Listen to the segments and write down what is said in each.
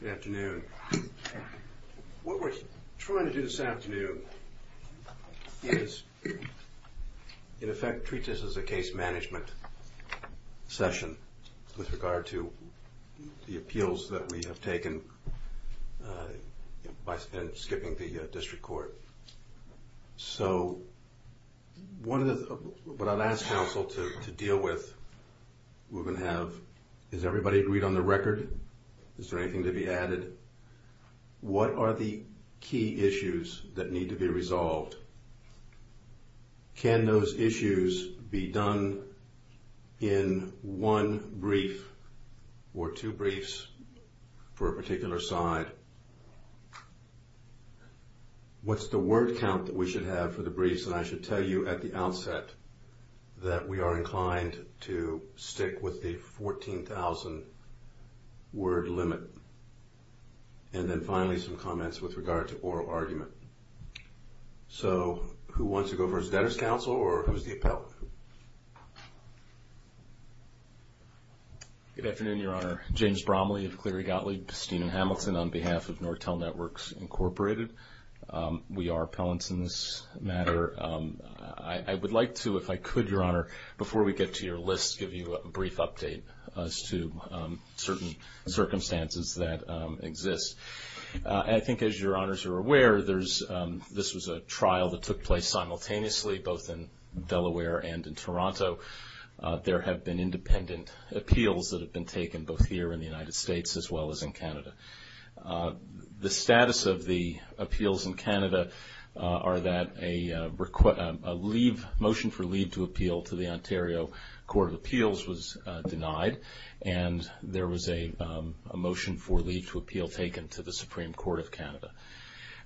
Good afternoon. What we're trying to do this afternoon is, in effect, treat this as a case management session with regard to the appeals that we have taken by skipping the district court. So, what I'll ask counsel to deal with, we're going to have, is everybody agreed on the record? Is there anything to be added? What are the key issues that need to be resolved? Can those issues be done in one brief or two briefs for a particular side? What's the word count that we should have for the briefs? And I should tell you at the outset that we are inclined to stick with the 14,000 word limit. And then finally, some comments with regard to oral argument. So, who wants to go first? That is counsel or who's the appellant? Good afternoon, Your Honor. James Bromley of Cleary Gottlieb, Bistine and Hamilton on behalf of Nortel Networks Incorporated. We are appellants in this matter. I would like to, if I could, Your Honor, before we get to your list, give you a brief update as to certain circumstances that exist. I think as Your Honors are aware, this was a trial that took place simultaneously both in Delaware and in Toronto. There have been independent appeals that have been taken both here in the United States as well as in Canada. The status of the appeals in Canada are that a motion for leave to appeal to the Ontario Court of Appeals was denied and there was a motion for leave to appeal taken to the Supreme Court of Canada.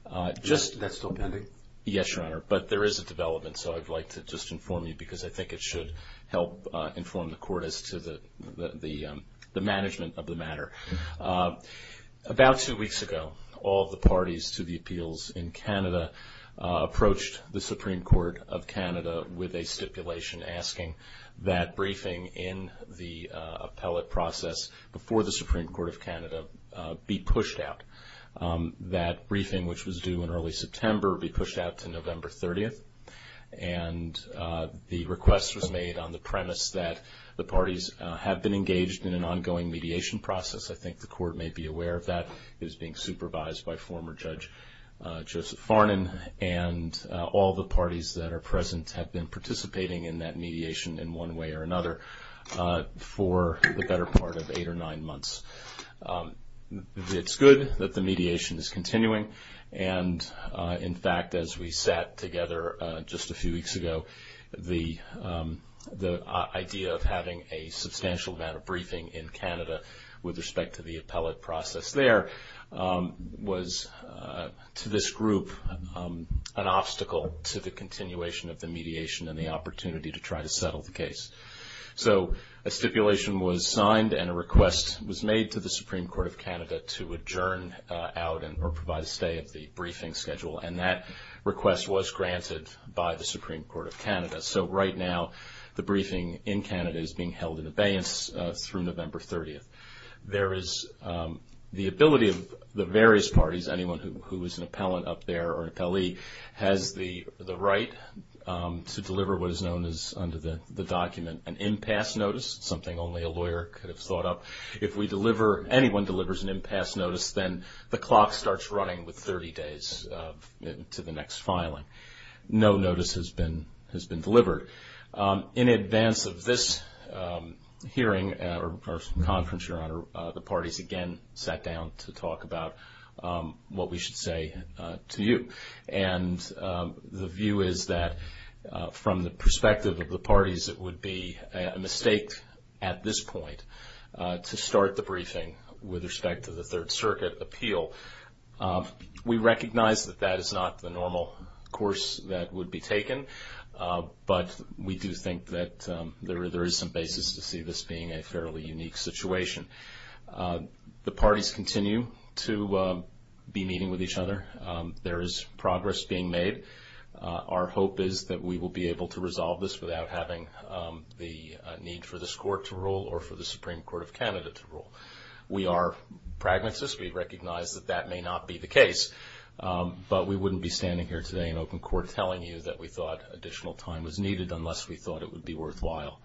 That's still pending? Yes, Your Honor, but there is a development, so I'd like to just inform you because I think it should help inform the court as to the management of the matter. About two weeks ago, all of the parties to the appeals in Canada approached the Supreme Court of Canada with a stipulation asking that briefing in the appellate process before the Supreme Court of Canada be pushed out. That briefing, which was due in early September, be pushed out to November 30th and the request was made on the premise that the parties have been engaged in an ongoing mediation process. I think the court may be aware of that. It is being supervised by former Judge Joseph Farnon and all the parties that are present have been participating in that mediation in one way or another for the better part of eight or nine months. It's good that the mediation is continuing and in fact, as we sat together just a few weeks ago, the idea of having a substantial amount of briefing in Canada with respect to the appellate process there was to this group an obstacle to the continuation of the mediation and the opportunity to try to settle the case. A stipulation was signed and a request was made to the Supreme Court of Canada to adjourn out or provide a stay of the briefing schedule and that request was granted by the Supreme Court of Canada. Right now, the briefing in Canada is being held in abeyance through November 30th. There is the ability of the various parties, anyone who is an appellant up there or an appellee, has the right to deliver what is known as, under the document, an impasse notice, something only a lawyer could have thought of. If we deliver, anyone delivers an impasse notice, then the clock starts running with 30 days to the next filing. No notice has been delivered. In advance of this hearing or conference, Your Honor, the parties again sat down to talk about what we should say to you. The view is that from the perspective of the parties, it would be a mistake at this point to start the briefing with respect to the Third Circuit appeal. We recognize that that is not the normal course that would be taken, but we do think that there is some basis to see this being a fairly unique situation. The parties continue to be meeting with each other. There is progress being made. Our hope is that we will be able to resolve this without having the need for this Court to rule or for the Supreme Court of Canada to rule. We are pragmatists. We recognize that that may not be the case, but we wouldn't be standing here today in open court telling you that we thought additional time was needed unless we thought it would be worthwhile.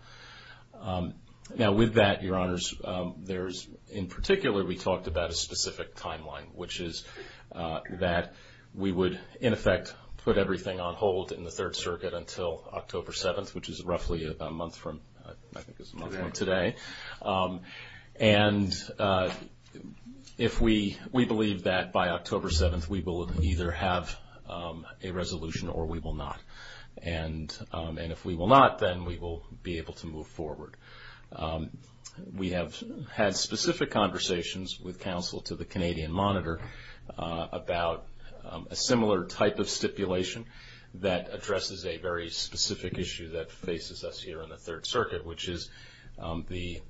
Now, with that, Your Honors, in particular, we talked about a specific timeline, which is that we would, in effect, put everything on hold in the Third Circuit until October 7th, which is roughly a month from today. And we believe that by October 7th, we will either have a resolution or we will not. And if we will not, then we will be able to move forward. We have had specific conversations with counsel to the Canadian Monitor about a similar type of stipulation that addresses a very specific issue that faces us here in the Third Circuit, which is the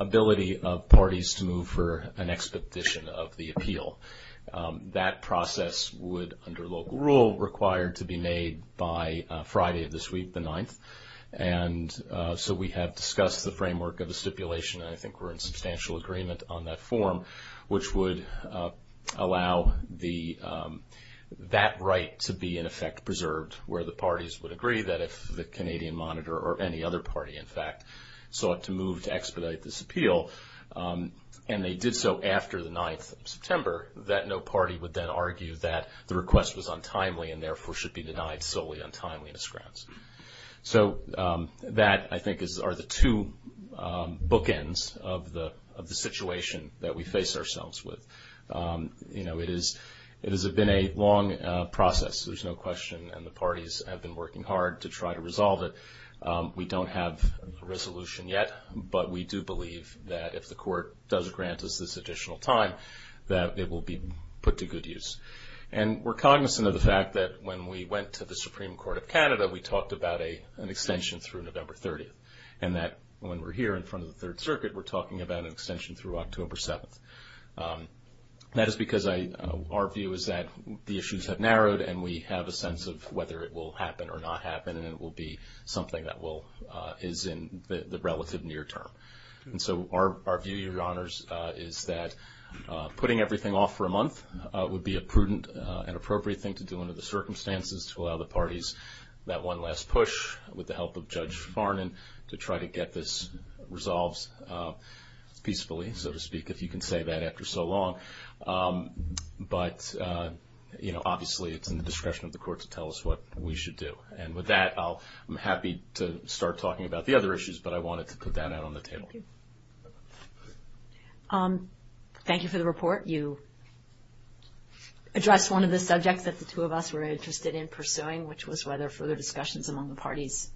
ability of parties to move for an expedition of the appeal. That process would, under local rule, require to be made by Friday of this week, the 9th. And so we have discussed the framework of the stipulation, and I think we're in substantial agreement on that form, which would allow that right to be, in effect, preserved, where the parties would agree that if the Canadian Monitor or any other party, in fact, sought to move to expedite this appeal, and they did so after the 9th of September, that no party would then argue that the request was untimely and therefore should be denied solely on timeliness grounds. So that, I think, are the two bookends of the situation that we face ourselves with. You know, it has been a long process, there's no question, and the parties have been working hard to try to resolve it. We don't have a resolution yet, but we do believe that if the Court does grant us this additional time, that it will be put to good use. And we're cognizant of the fact that when we went to the Supreme Court of Canada, we talked about an extension through November 30th, and that when we're here in front of the Third Circuit, we're talking about an extension through October 7th. That is because our view is that the issues have narrowed and we have a sense of whether it will happen or not happen, and it will be something that is in the relative near term. And so our view, Your Honours, is that putting everything off for a month would be a prudent and appropriate thing to do under the circumstances to allow the parties that one last push, with the help of Judge Farnan, to try to get this resolved peacefully, so to speak, if you can say that after so long. But, you know, obviously it's in the discretion of the Court to tell us what we should do. And with that, I'm happy to start talking about the other issues, but I wanted to put that out on the table. Thank you. Thank you for the report. You addressed one of the subjects that the two of us were interested in pursuing, which was whether further discussions among the parties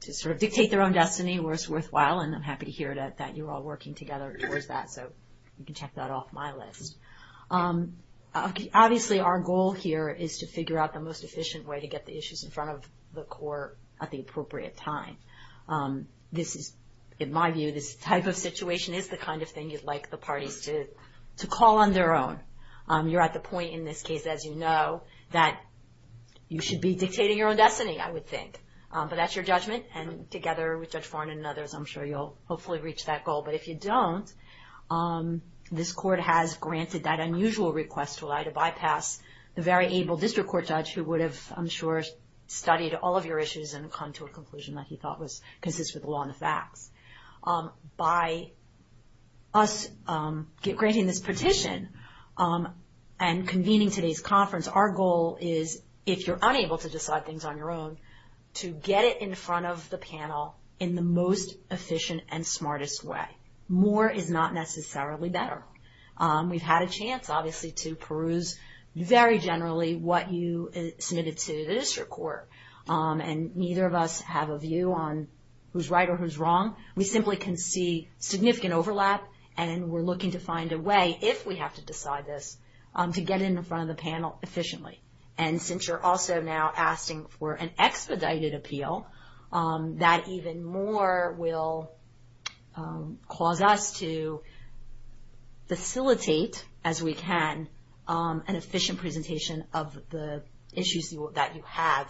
to sort of dictate their own destiny were worthwhile, and I'm happy to hear that you're all working together towards that, so you can check that off my list. Obviously, our goal here is to figure out the most efficient way to get the issues in front of the Court at the appropriate time. This is, in my view, this type of situation is the kind of thing you'd like the parties to call on their own. You're at the point in this case, as you know, that you should be dictating your own destiny, I would think. But that's your judgment, and together with Judge Farnan and others, I'm sure you'll hopefully reach that goal. But if you don't, this Court has granted that unusual request to allow you to bypass the very able district court judge who would have, I'm sure, studied all of your issues and come to a conclusion that he thought was consistent with the law and the facts. By us granting this petition and convening today's conference, our goal is, if you're unable to decide things on your own, to get it in front of the panel in the most efficient and smartest way. More is not necessarily better. We've had a chance, obviously, to peruse very generally what you submitted to the district court, and neither of us have a view on who's right or who's wrong. We simply can see significant overlap, and we're looking to find a way, if we have to decide this, to get it in front of the panel efficiently. And since you're also now asking for an expedited appeal, that even more will cause us to facilitate, as we can, an efficient presentation of the issues that you have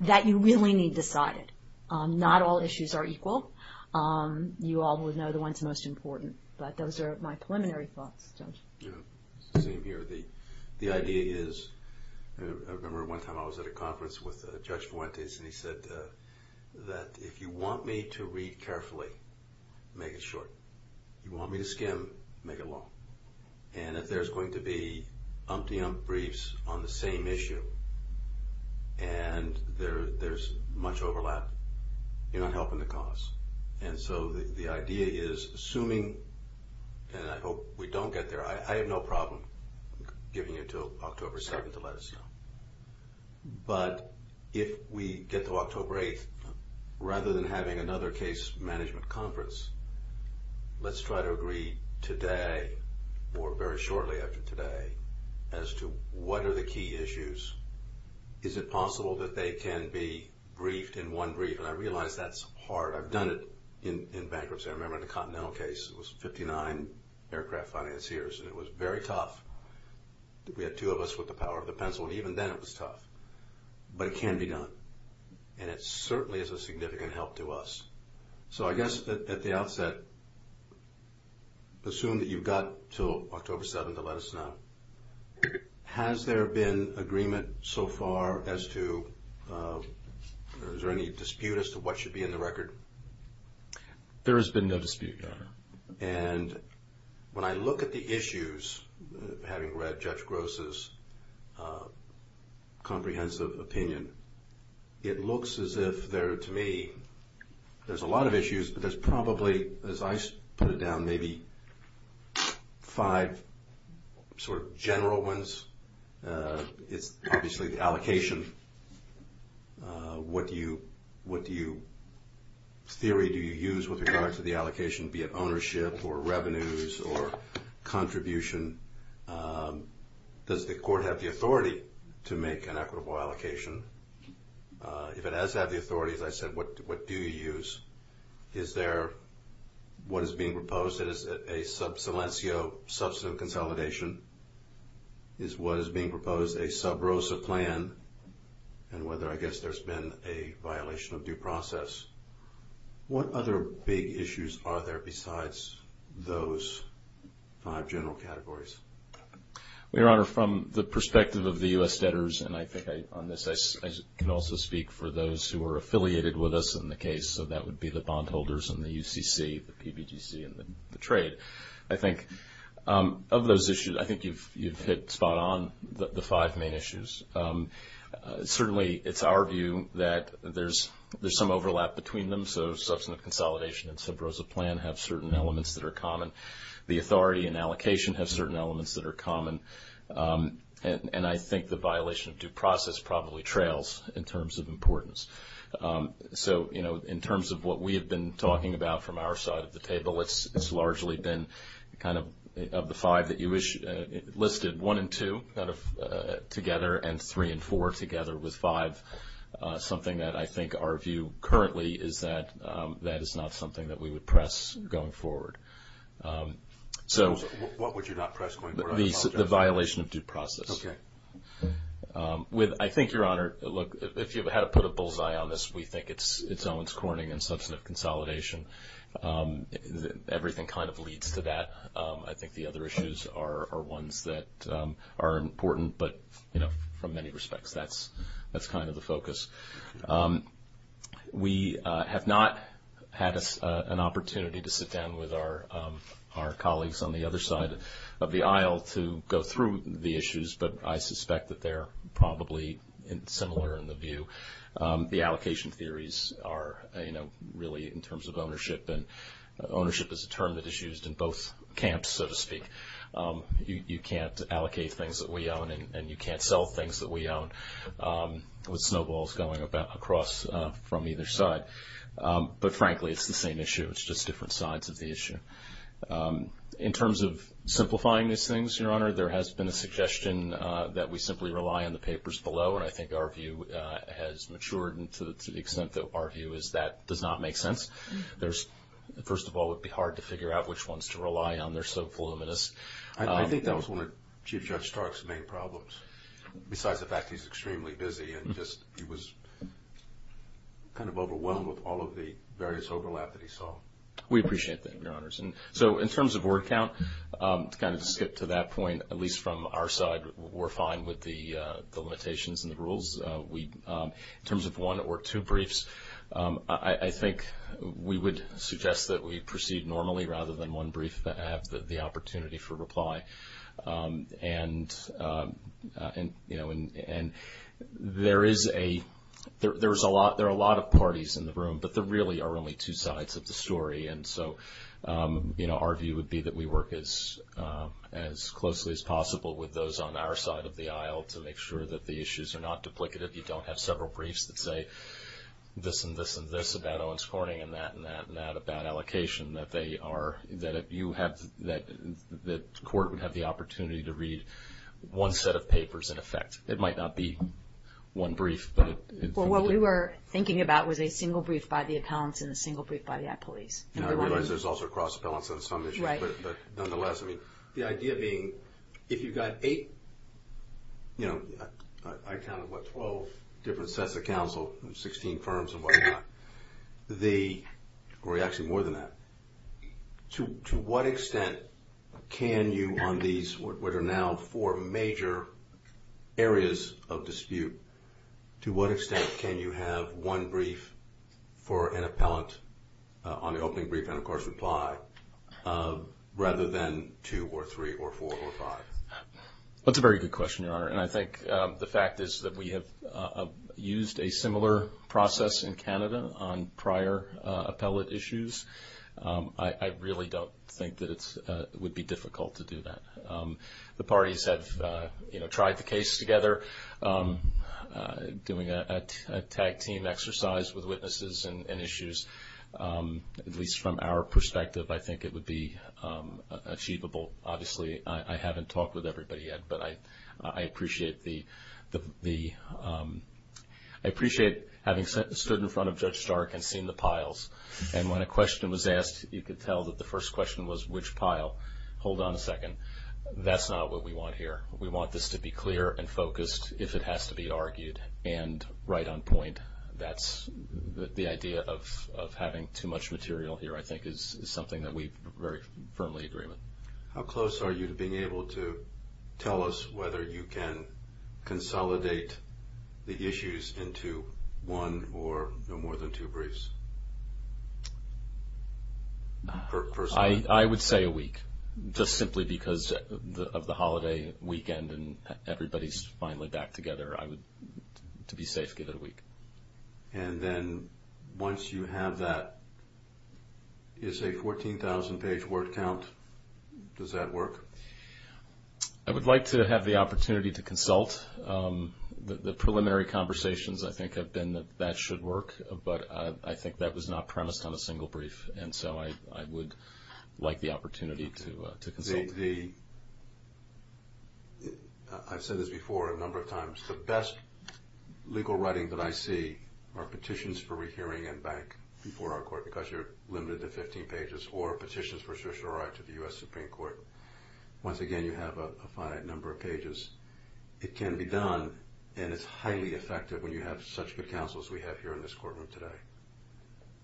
that you really need decided. Not all issues are equal. You all would know the ones most important. But those are my preliminary thoughts, Judge. It's the same here. The idea is, I remember one time I was at a conference with Judge Fuentes, and he said that if you want me to read carefully, make it short. If you want me to skim, make it long. And if there's going to be umpty-ump briefs on the same issue, and there's much overlap, you're not helping the cause. And so the idea is, assuming, and I hope we don't get there. I have no problem giving it until October 7th to let us know. But if we get to October 8th, rather than having another case management conference, let's try to agree today, or very shortly after today, as to what are the key issues. Is it possible that they can be briefed in one brief? And I realize that's hard. I've done it in bankruptcy. I remember in the Continental case, it was 59 aircraft financiers, and it was very tough. We had two of us with the power of the pencil, and even then it was tough. But it can be done. And it certainly is a significant help to us. So I guess at the outset, assume that you've got until October 7th to let us know. Has there been agreement so far as to, is there any dispute as to what should be in the record? There has been no dispute, Your Honor. And when I look at the issues, having read Judge Gross's comprehensive opinion, it looks as if there, to me, there's a lot of issues. There's probably, as I put it down, maybe five sort of general ones. It's obviously the allocation. What do you, in theory, do you use with regards to the allocation, be it ownership or revenues or contribution? Does the court have the authority to make an equitable allocation? If it has to have the authority, as I said, what do you use? Is there what is being proposed? Is it a sub silencio, substantive consolidation? Is what is being proposed a sub rosa plan? And whether, I guess, there's been a violation of due process. What other big issues are there besides those five general categories? Well, Your Honor, from the perspective of the U.S. debtors, and I think on this I can also speak for those who are affiliated with us in the case, so that would be the bondholders and the UCC, the PBGC, and the trade. I think of those issues, I think you've hit spot on the five main issues. Certainly, it's our view that there's some overlap between them, so substantive consolidation and sub rosa plan have certain elements that are common. The authority and allocation have certain elements that are common. And I think the violation of due process probably trails in terms of importance. So, you know, in terms of what we have been talking about from our side of the table, it's largely been kind of the five that you listed, one and two kind of together, and three and four together with five, something that I think our view currently is that that is not something that we would press going forward. So what would you not press going forward? The violation of due process. Okay. I think, Your Honor, look, if you had to put a bullseye on this, we think it's Owens-Corning and substantive consolidation. Everything kind of leads to that. I think the other issues are ones that are important, but, you know, from many respects, that's kind of the focus. We have not had an opportunity to sit down with our colleagues on the other side of the aisle to go through the issues, but I suspect that they're probably similar in the view. The allocation theories are, you know, really in terms of ownership, and ownership is a term that is used in both camps, so to speak. You can't allocate things that we own, and you can't sell things that we own with snowballs going across from either side. But, frankly, it's the same issue. It's just different sides of the issue. In terms of simplifying these things, Your Honor, there has been a suggestion that we simply rely on the papers below, and I think our view has matured to the extent that our view is that does not make sense. First of all, it would be hard to figure out which ones to rely on. They're so voluminous. I think that was one of Chief Judge Stark's main problems, besides the fact he's extremely busy, and just he was kind of overwhelmed with all of the various overlap that he saw. We appreciate that, Your Honors. So, in terms of word count, to kind of skip to that point, at least from our side, we're fine with the limitations and the rules. In terms of one or two briefs, I think we would suggest that we proceed normally rather than one brief. I have the opportunity for reply. And there are a lot of parties in the room, but there really are only two sides of the story. And so our view would be that we work as closely as possible with those on our side of the aisle to make sure that the issues are not duplicative. You don't have several briefs that say this and this and this about Owens Corning and that and that and that about allocation, that they are – that you have – that the court would have the opportunity to read one set of papers in effect. It might not be one brief, but it – Well, what we were thinking about was a single brief by the appellants and a single brief by the appellees. And I realize there's also cross-appellants on some issues. Right. But nonetheless, I mean, the idea being if you've got eight – you know, I counted, what, 12 different sets of counsel, 16 firms and whatnot. The – or actually more than that. To what extent can you on these, what are now four major areas of dispute, to what extent can you have one brief for an appellant on the opening brief and, of course, reply rather than two or three or four or five? That's a very good question, Your Honor. And I think the fact is that we have used a similar process in Canada on prior appellate issues. I really don't think that it would be difficult to do that. The parties have, you know, tried the case together, doing a tag-team exercise with witnesses and issues. At least from our perspective, I think it would be achievable. Obviously, I haven't talked with everybody yet, but I appreciate the – I appreciate having stood in front of Judge Stark and seen the piles. And when a question was asked, you could tell that the first question was, which pile? Hold on a second. That's not what we want here. We want this to be clear and focused if it has to be argued and right on point. That's – the idea of having too much material here, I think, is something that we very firmly agree with. How close are you to being able to tell us whether you can consolidate the issues into one or no more than two briefs? I would say a week, just simply because of the holiday weekend and everybody's finally back together. I would, to be safe, give it a week. And then once you have that, is a 14,000-page word count, does that work? I would like to have the opportunity to consult. The preliminary conversations, I think, have been that that should work, but I think that was not premised on a single brief, and so I would like the opportunity to consult. I've said this before a number of times. The best legal writing that I see are petitions for rehearing and back before our court because you're limited to 15 pages, or petitions for social right to the U.S. Supreme Court. Once again, you have a finite number of pages. It can be done, and it's highly effective when you have such good counsel as we have here in this courtroom today.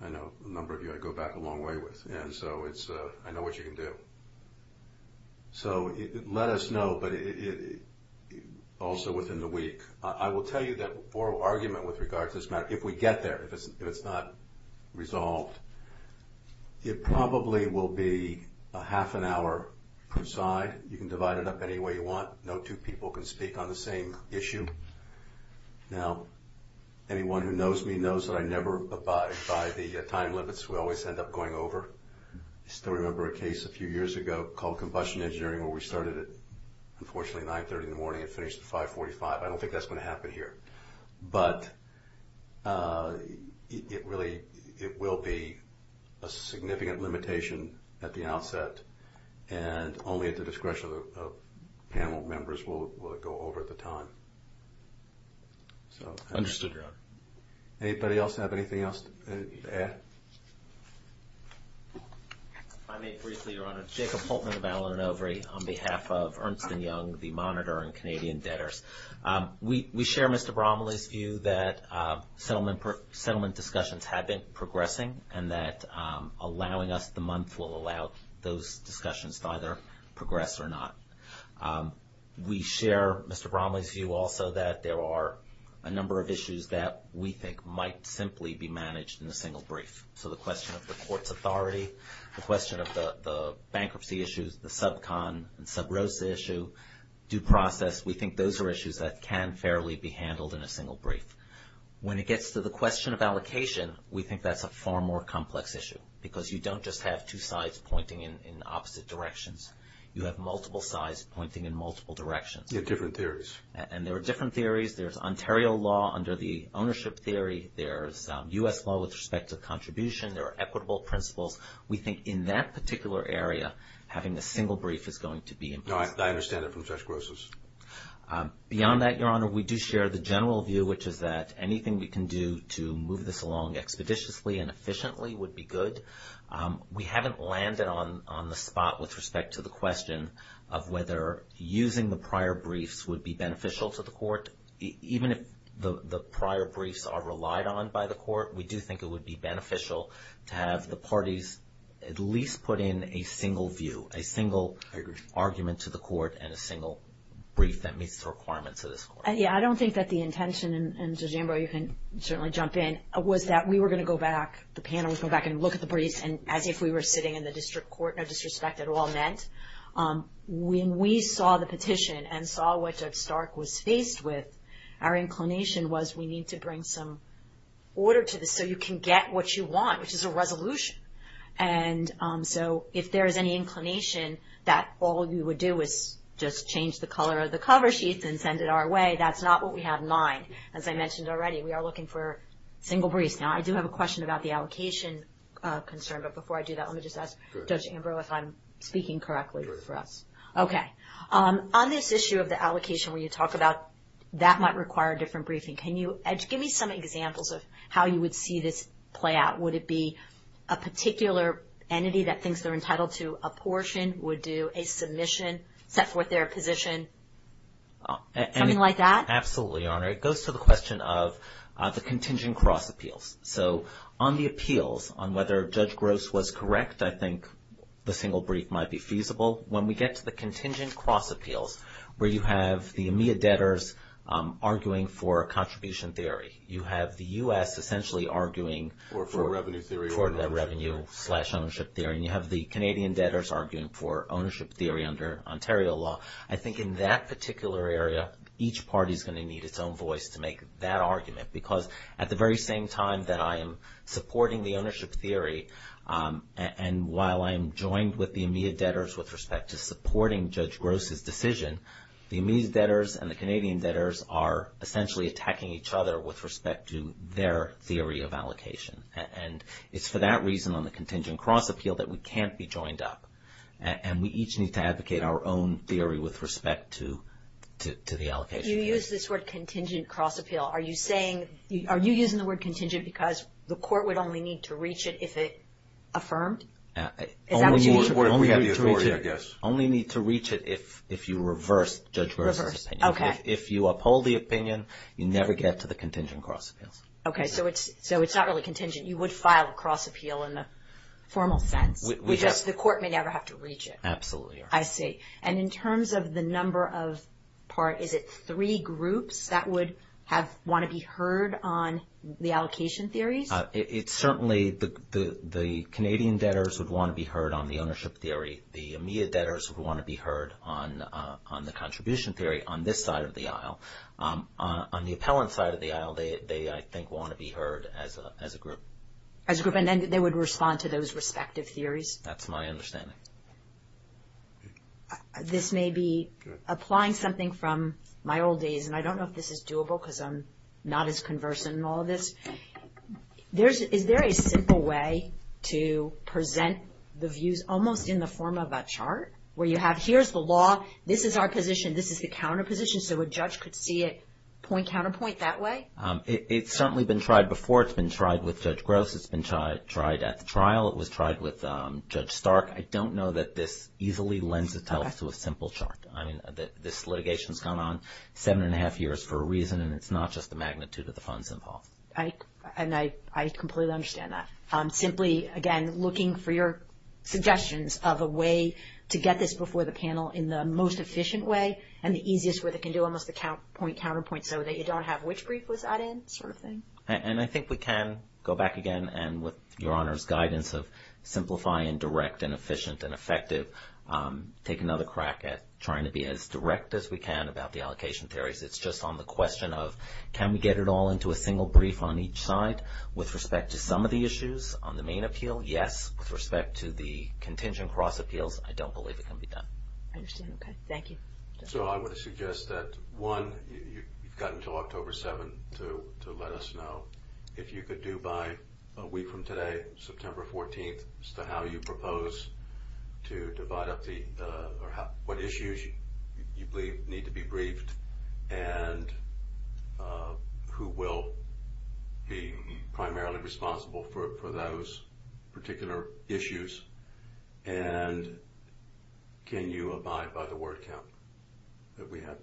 I know a number of you I go back a long way with, and so I know what you can do. So let us know, but also within the week. I will tell you that oral argument with regard to this matter, if we get there, if it's not resolved, it probably will be a half an hour per side. You can divide it up any way you want. No two people can speak on the same issue. Now, anyone who knows me knows that I never abide by the time limits. We always end up going over. I still remember a case a few years ago called Combustion Engineering where we started at, unfortunately, 930 in the morning and finished at 545. I don't think that's going to happen here. And only at the discretion of panel members will it go over at the time. Understood, Your Honor. Anybody else have anything else to add? If I may briefly, Your Honor. Jacob Holtman of Allen & Overy on behalf of Ernst & Young, the Monitor and Canadian Debtors. We share Mr. Bromley's view that settlement discussions have been progressing and that allowing us the month will allow those discussions to either progress or not. We share Mr. Bromley's view also that there are a number of issues that we think might simply be managed in a single brief. So the question of the court's authority, the question of the bankruptcy issues, the sub-con and sub-rosa issue, due process, we think those are issues that can fairly be handled in a single brief. When it gets to the question of allocation, we think that's a far more complex issue because you don't just have two sides pointing in opposite directions. You have multiple sides pointing in multiple directions. You have different theories. And there are different theories. There's Ontario law under the ownership theory. There's U.S. law with respect to contribution. There are equitable principles. We think in that particular area, having a single brief is going to be important. No, I understand that from Judge Gross's. Beyond that, Your Honor, we do share the general view, which is that anything we can do to move this along expeditiously and efficiently would be good. We haven't landed on the spot with respect to the question of whether using the prior briefs would be beneficial to the court. Even if the prior briefs are relied on by the court, we do think it would be beneficial to have the parties at least put in a single view, a single argument to the court and a single brief that meets the requirements of this court. Yeah, I don't think that the intention, and Judge Ambrose, you can certainly jump in, was that we were going to go back, the panel was going to go back and look at the briefs as if we were sitting in the district court, no disrespect at all meant. When we saw the petition and saw what Judge Stark was faced with, our inclination was we need to bring some order to this so you can get what you want, which is a resolution. And so if there is any inclination that all you would do is just change the color of the cover sheets and send it our way, that's not what we have in mind. As I mentioned already, we are looking for single briefs. Now, I do have a question about the allocation concern, but before I do that, let me just ask Judge Ambrose if I'm speaking correctly for us. Okay. On this issue of the allocation where you talk about that might require a different briefing, can you give me some examples of how you would see this play out? Would it be a particular entity that thinks they're entitled to a portion, would do a submission, set forth their position, something like that? Absolutely, Your Honor. It goes to the question of the contingent cross appeals. So on the appeals, on whether Judge Gross was correct, I think the single brief might be feasible. When we get to the contingent cross appeals where you have the AMEA debtors arguing for contribution theory, you have the U.S. essentially arguing for the revenue-slash-ownership theory, and you have the Canadian debtors arguing for ownership theory under Ontario law. I think in that particular area, each party is going to need its own voice to make that argument because at the very same time that I am supporting the ownership theory and while I am joined with the AMEA debtors with respect to supporting Judge Gross' decision, the AMEA debtors and the Canadian debtors are essentially attacking each other with respect to their theory of allocation. And it's for that reason on the contingent cross appeal that we can't be joined up. And we each need to advocate our own theory with respect to the allocation. You use this word contingent cross appeal. Are you saying, are you using the word contingent because the court would only need to reach it if it affirmed? We have the authority, I guess. Only need to reach it if you reverse Judge Gross' opinion. Reverse, okay. If you uphold the opinion, you never get to the contingent cross appeals. Okay, so it's not really contingent. You would file a cross appeal in the formal sense, which is the court may never have to reach it. Absolutely. I see. And in terms of the number of parties, is it three groups that would want to be heard on the allocation theories? It's certainly the Canadian debtors would want to be heard on the ownership theory. The AMEA debtors would want to be heard on the contribution theory on this side of the aisle. On the appellant side of the aisle, they, I think, want to be heard as a group. As a group, and then they would respond to those respective theories? That's my understanding. This may be applying something from my old days, and I don't know if this is doable because I'm not as conversant in all of this. Is there a simple way to present the views almost in the form of a chart where you have, here's the law, this is our position, this is the counter position, so a judge could see it point, counterpoint that way? It's certainly been tried before. It's been tried with Judge Gross. It's been tried at the trial. It was tried with Judge Stark. I don't know that this easily lends itself to a simple chart. I mean, this litigation has gone on seven and a half years for a reason, and it's not just the magnitude of the funds involved. And I completely understand that. Simply, again, looking for your suggestions of a way to get this before the panel in the most efficient way and the easiest way they can do almost the count point, counterpoint so that you don't have which brief was added sort of thing. And I think we can go back again, and with Your Honor's guidance of simplify and direct and efficient and effective, take another crack at trying to be as direct as we can about the allocation theories. It's just on the question of can we get it all into a single brief on each side? With respect to some of the issues on the main appeal, yes. With respect to the contingent cross appeals, I don't believe it can be done. I understand. Okay. Thank you. So I would suggest that, one, you've got until October 7th to let us know if you could do by a week from today, September 14th, as to how you propose to divide up what issues you believe need to be briefed and who will be primarily responsible for those particular issues, and can you abide by the word count that we have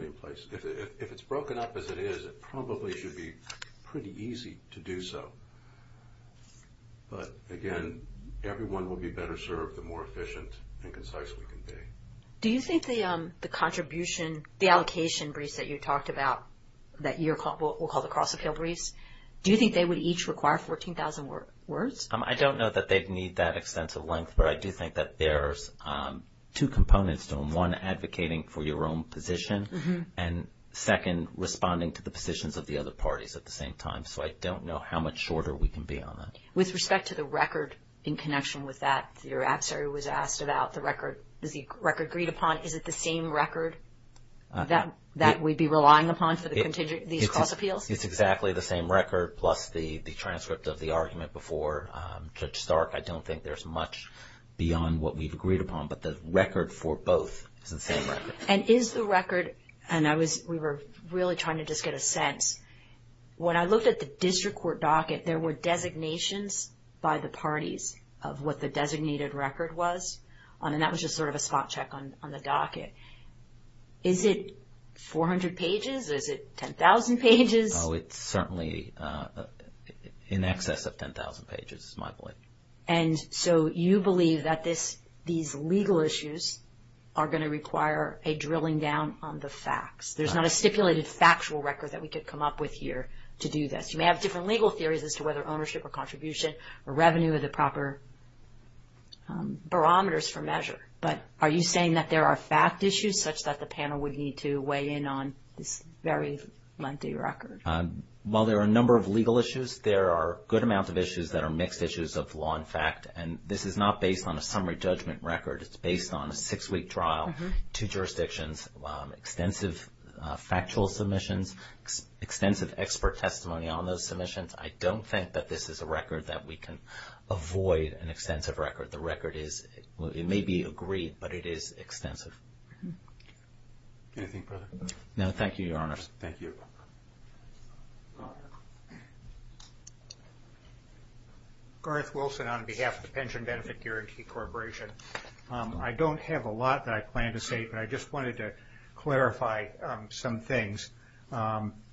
in place? If it's broken up as it is, it probably should be pretty easy to do so. But, again, everyone will be better served the more efficient and concise we can be. Do you think the contribution, the allocation briefs that you talked about, that we'll call the cross appeal briefs, do you think they would each require 14,000 words? I don't know that they'd need that extensive length, but I do think that there's two components to them. One, advocating for your own position, and second, responding to the positions of the other parties at the same time. So I don't know how much shorter we can be on that. With respect to the record in connection with that, your adversary was asked about the record. Is the record agreed upon? Is it the same record that we'd be relying upon for these cross appeals? It's exactly the same record, plus the transcript of the argument before Judge Stark. I don't think there's much beyond what we've agreed upon, but the record for both is the same record. And is the record, and we were really trying to just get a sense, when I looked at the district court docket, there were designations by the parties of what the designated record was, and that was just sort of a spot check on the docket. Is it 400 pages? Is it 10,000 pages? It's certainly in excess of 10,000 pages, is my belief. And so you believe that these legal issues are going to require a drilling down on the facts. There's not a stipulated factual record that we could come up with here to do this. You may have different legal theories as to whether ownership or contribution or revenue are the proper barometers for measure, but are you saying that there are fact issues such that the panel would need to weigh in on this very lengthy record? While there are a number of legal issues, there are a good amount of issues that are mixed issues of law and fact, and this is not based on a summary judgment record. It's based on a six-week trial, two jurisdictions, extensive factual submissions, extensive expert testimony on those submissions. I don't think that this is a record that we can avoid, an extensive record. The record is, it may be agreed, but it is extensive. Anything further? No, thank you, Your Honor. Thank you. Garth Wilson on behalf of the Pension Benefit Guarantee Corporation. I don't have a lot that I plan to say, but I just wanted to clarify some things.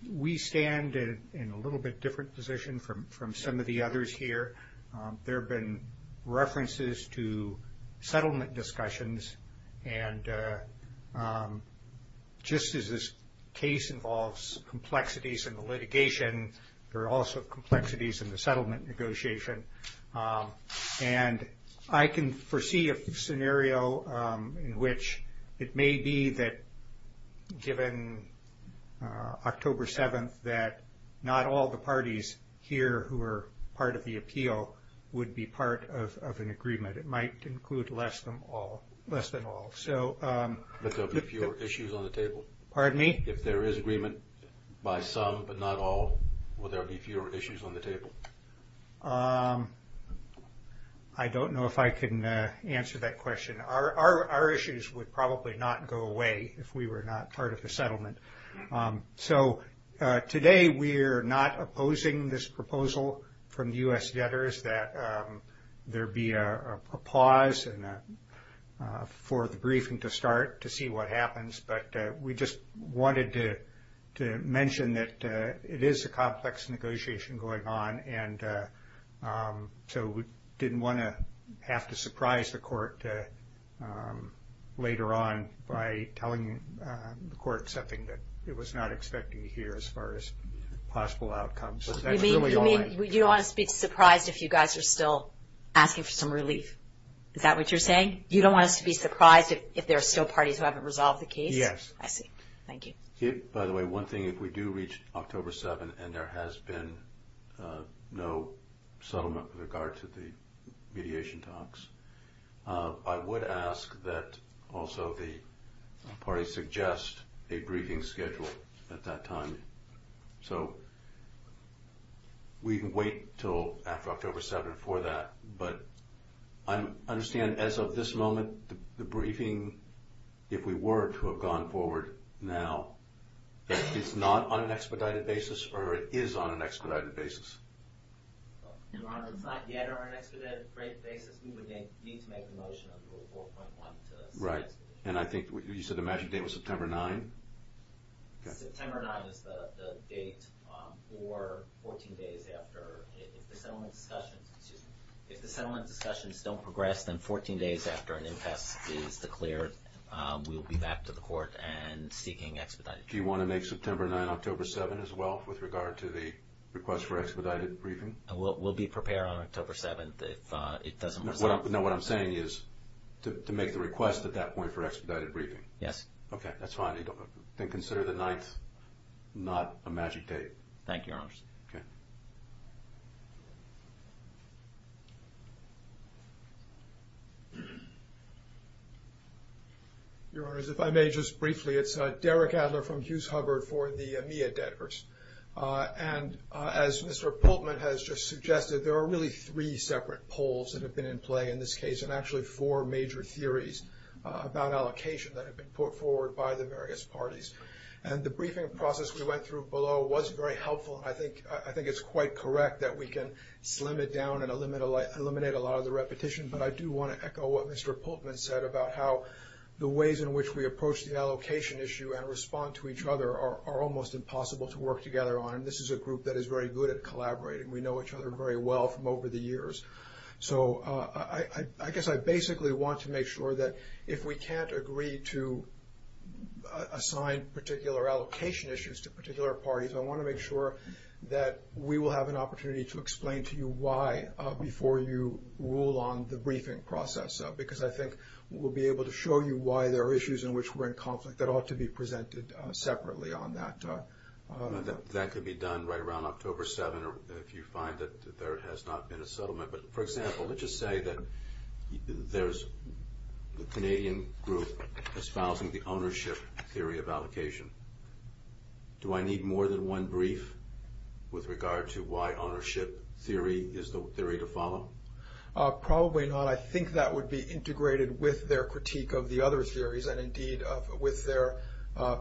We stand in a little bit different position from some of the others here. There have been references to settlement discussions, and just as this case involves complexities in the litigation, there are also complexities in the settlement negotiation. And I can foresee a scenario in which it may be that, given October 7th, that not all the parties here who are part of the appeal would be part of an agreement. It might include less than all. But there will be fewer issues on the table. Pardon me? If there is agreement by some but not all, will there be fewer issues on the table? I don't know if I can answer that question. Our issues would probably not go away if we were not part of the settlement. So today we are not opposing this proposal from the U.S. debtors, that there be a pause for the briefing to start to see what happens. But we just wanted to mention that it is a complex negotiation going on, and so we didn't want to have to surprise the court later on by telling the court something that it was not expecting to hear as far as possible outcomes. You mean you don't want us to be surprised if you guys are still asking for some relief? Is that what you're saying? You don't want us to be surprised if there are still parties who haven't resolved the case? Yes. I see. Thank you. By the way, one thing, if we do reach October 7th and there has been no settlement with regard to the mediation talks, I would ask that also the parties suggest a briefing schedule at that time. So we can wait until after October 7th for that, but I understand as of this moment the briefing, if we were to have gone forward now, that it's not on an expedited basis or it is on an expedited basis. Your Honor, it's not yet on an expedited basis. We would need to make the motion on Rule 4.1 to expedite. Right. And I think you said the matching date was September 9th? September 9th is the date for 14 days after. If the settlement discussions don't progress, then 14 days after an impasse is declared, we'll be back to the court and seeking expedite. Do you want to make September 9th, October 7th as well with regard to the request for expedited briefing? We'll be prepared on October 7th if it doesn't result. No, what I'm saying is to make the request at that point for expedited briefing. Yes. Okay, that's fine. Then consider the 9th not a matching date. Thank you, Your Honor. Okay. Your Honor, as if I may just briefly, it's Derek Adler from Hughes Hubbard for the EMEA debtors. And as Mr. Pultman has just suggested, there are really three separate polls that have been in play in this case and actually four major theories about allocation that have been put forward by the various parties. And the briefing process we went through below was very helpful, and I think it's quite correct. I think it's quite correct that we can slim it down and eliminate a lot of the repetition, but I do want to echo what Mr. Pultman said about how the ways in which we approach the allocation issue and respond to each other are almost impossible to work together on, and this is a group that is very good at collaborating. We know each other very well from over the years. So I guess I basically want to make sure that if we can't agree to assign particular allocation issues to particular parties, I want to make sure that we will have an opportunity to explain to you why before you rule on the briefing process, because I think we'll be able to show you why there are issues in which we're in conflict that ought to be presented separately on that. That could be done right around October 7th if you find that there has not been a settlement. But, for example, let's just say that there's the Canadian group espousing the ownership theory of allocation. Do I need more than one brief with regard to why ownership theory is the theory to follow? Probably not. I think that would be integrated with their critique of the other theories and, indeed, with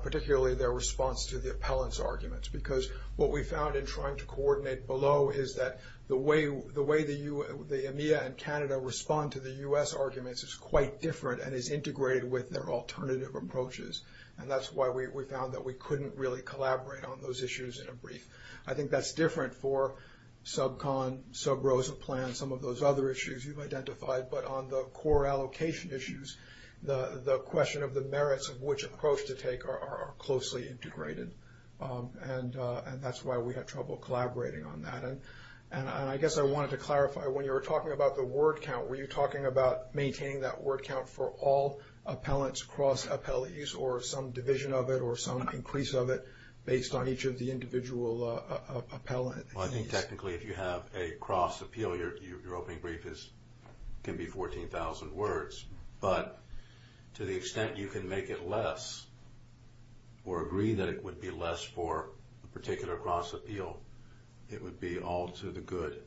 particularly their response to the appellants' arguments, because what we found in trying to coordinate below is that the way the EMEA and Canada respond to the U.S. arguments is quite different and is integrated with their alternative approaches, and that's why we found that we couldn't really collaborate on those issues in a brief. I think that's different for sub-con, sub-rosa plan, some of those other issues you've identified, but on the core allocation issues, the question of the merits of which approach to take are closely integrated, and that's why we had trouble collaborating on that. And I guess I wanted to clarify, when you were talking about the word count, were you talking about maintaining that word count for all appellants across appellees or some division of it or some increase of it based on each of the individual appellants? Well, I think, technically, if you have a cross appeal, your opening brief can be 14,000 words, but to the extent you can make it less or agree that it would be less for a particular cross appeal, it would be all to the good.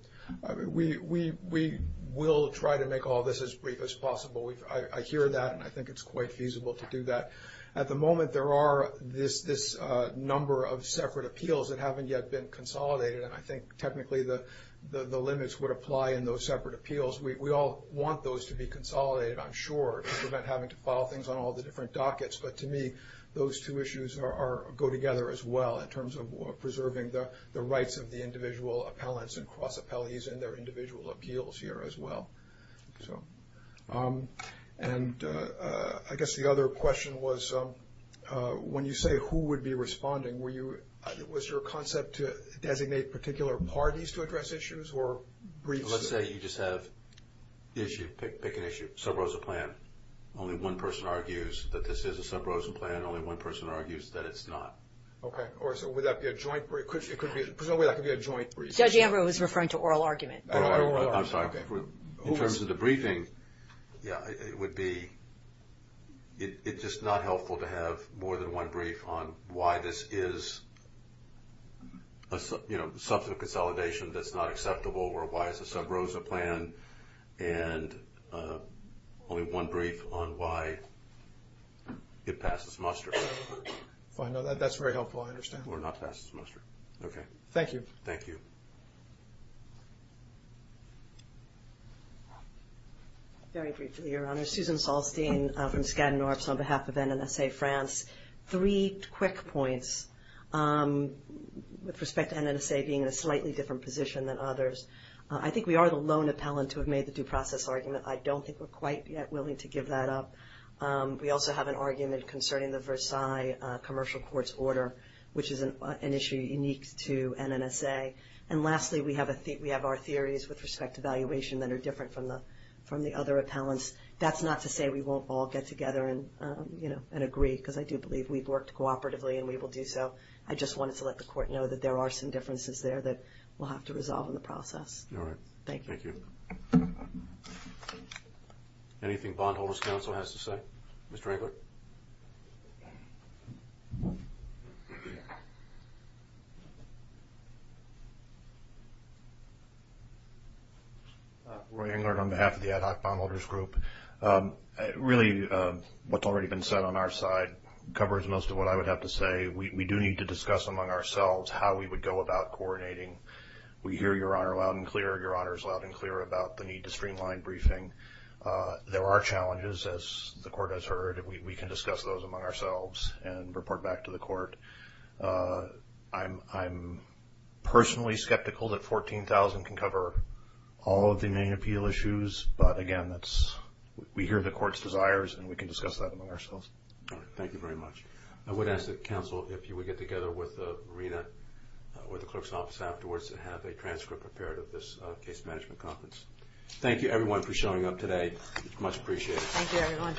We will try to make all this as brief as possible. I hear that, and I think it's quite feasible to do that. At the moment, there are this number of separate appeals that haven't yet been consolidated, and I think, technically, the limits would apply in those separate appeals. We all want those to be consolidated, I'm sure, to prevent having to file things on all the different dockets, but to me, those two issues go together as well in terms of preserving the rights of the individual appellants and cross appellees and their individual appeals here as well. And I guess the other question was, when you say who would be responding, was your concept to designate particular parties to address issues or briefs? Let's say you just have the issue, pick an issue, subrosa plan. Only one person argues that this is a subrosa plan. Only one person argues that it's not. Okay, so would that be a joint brief? Presumably that could be a joint brief. Judge Ambrose was referring to oral argument. I'm sorry. In terms of the briefing, yeah, it would be, it's just not helpful to have more than one brief on why this is a substantive consolidation that's not acceptable or why it's a subrosa plan, and only one brief on why it passes muster. That's very helpful, I understand. Or not pass muster. Okay. Thank you. Thank you. Very briefly, Your Honor. Susan Salstein from Skadden Orbs on behalf of NNSA France. Three quick points with respect to NNSA being in a slightly different position than others. I think we are the lone appellant to have made the due process argument. I don't think we're quite yet willing to give that up. We also have an argument concerning the Versailles commercial court's order, which is an issue unique to NNSA. And lastly, we have our theories with respect to valuation that are different from the other appellants. That's not to say we won't all get together and agree, because I do believe we've worked cooperatively and we will do so. I just wanted to let the Court know that there are some differences there that we'll have to resolve in the process. All right. Thank you. Thank you. Thank you. Anything Bondholders Council has to say? Mr. Englert? Roy Englert on behalf of the Ad Hoc Bondholders Group. Really what's already been said on our side covers most of what I would have to say. We do need to discuss among ourselves how we would go about coordinating. We hear Your Honor loud and clear. Your Honor is loud and clear about the need to streamline briefing. There are challenges, as the Court has heard. We can discuss those among ourselves and report back to the Court. I'm personally skeptical that $14,000 can cover all of the main appeal issues. But, again, we hear the Court's desires, and we can discuss that among ourselves. All right. Thank you very much. I would ask that counsel, if you would get together with Rita or the clerk's office afterwards to have a transcript prepared of this case management conference. Thank you, everyone, for showing up today. Much appreciated. Thank you, everyone. Ladies and Gentlemen, this hearing is adjourned until Friday, September 9th, at 7 AM.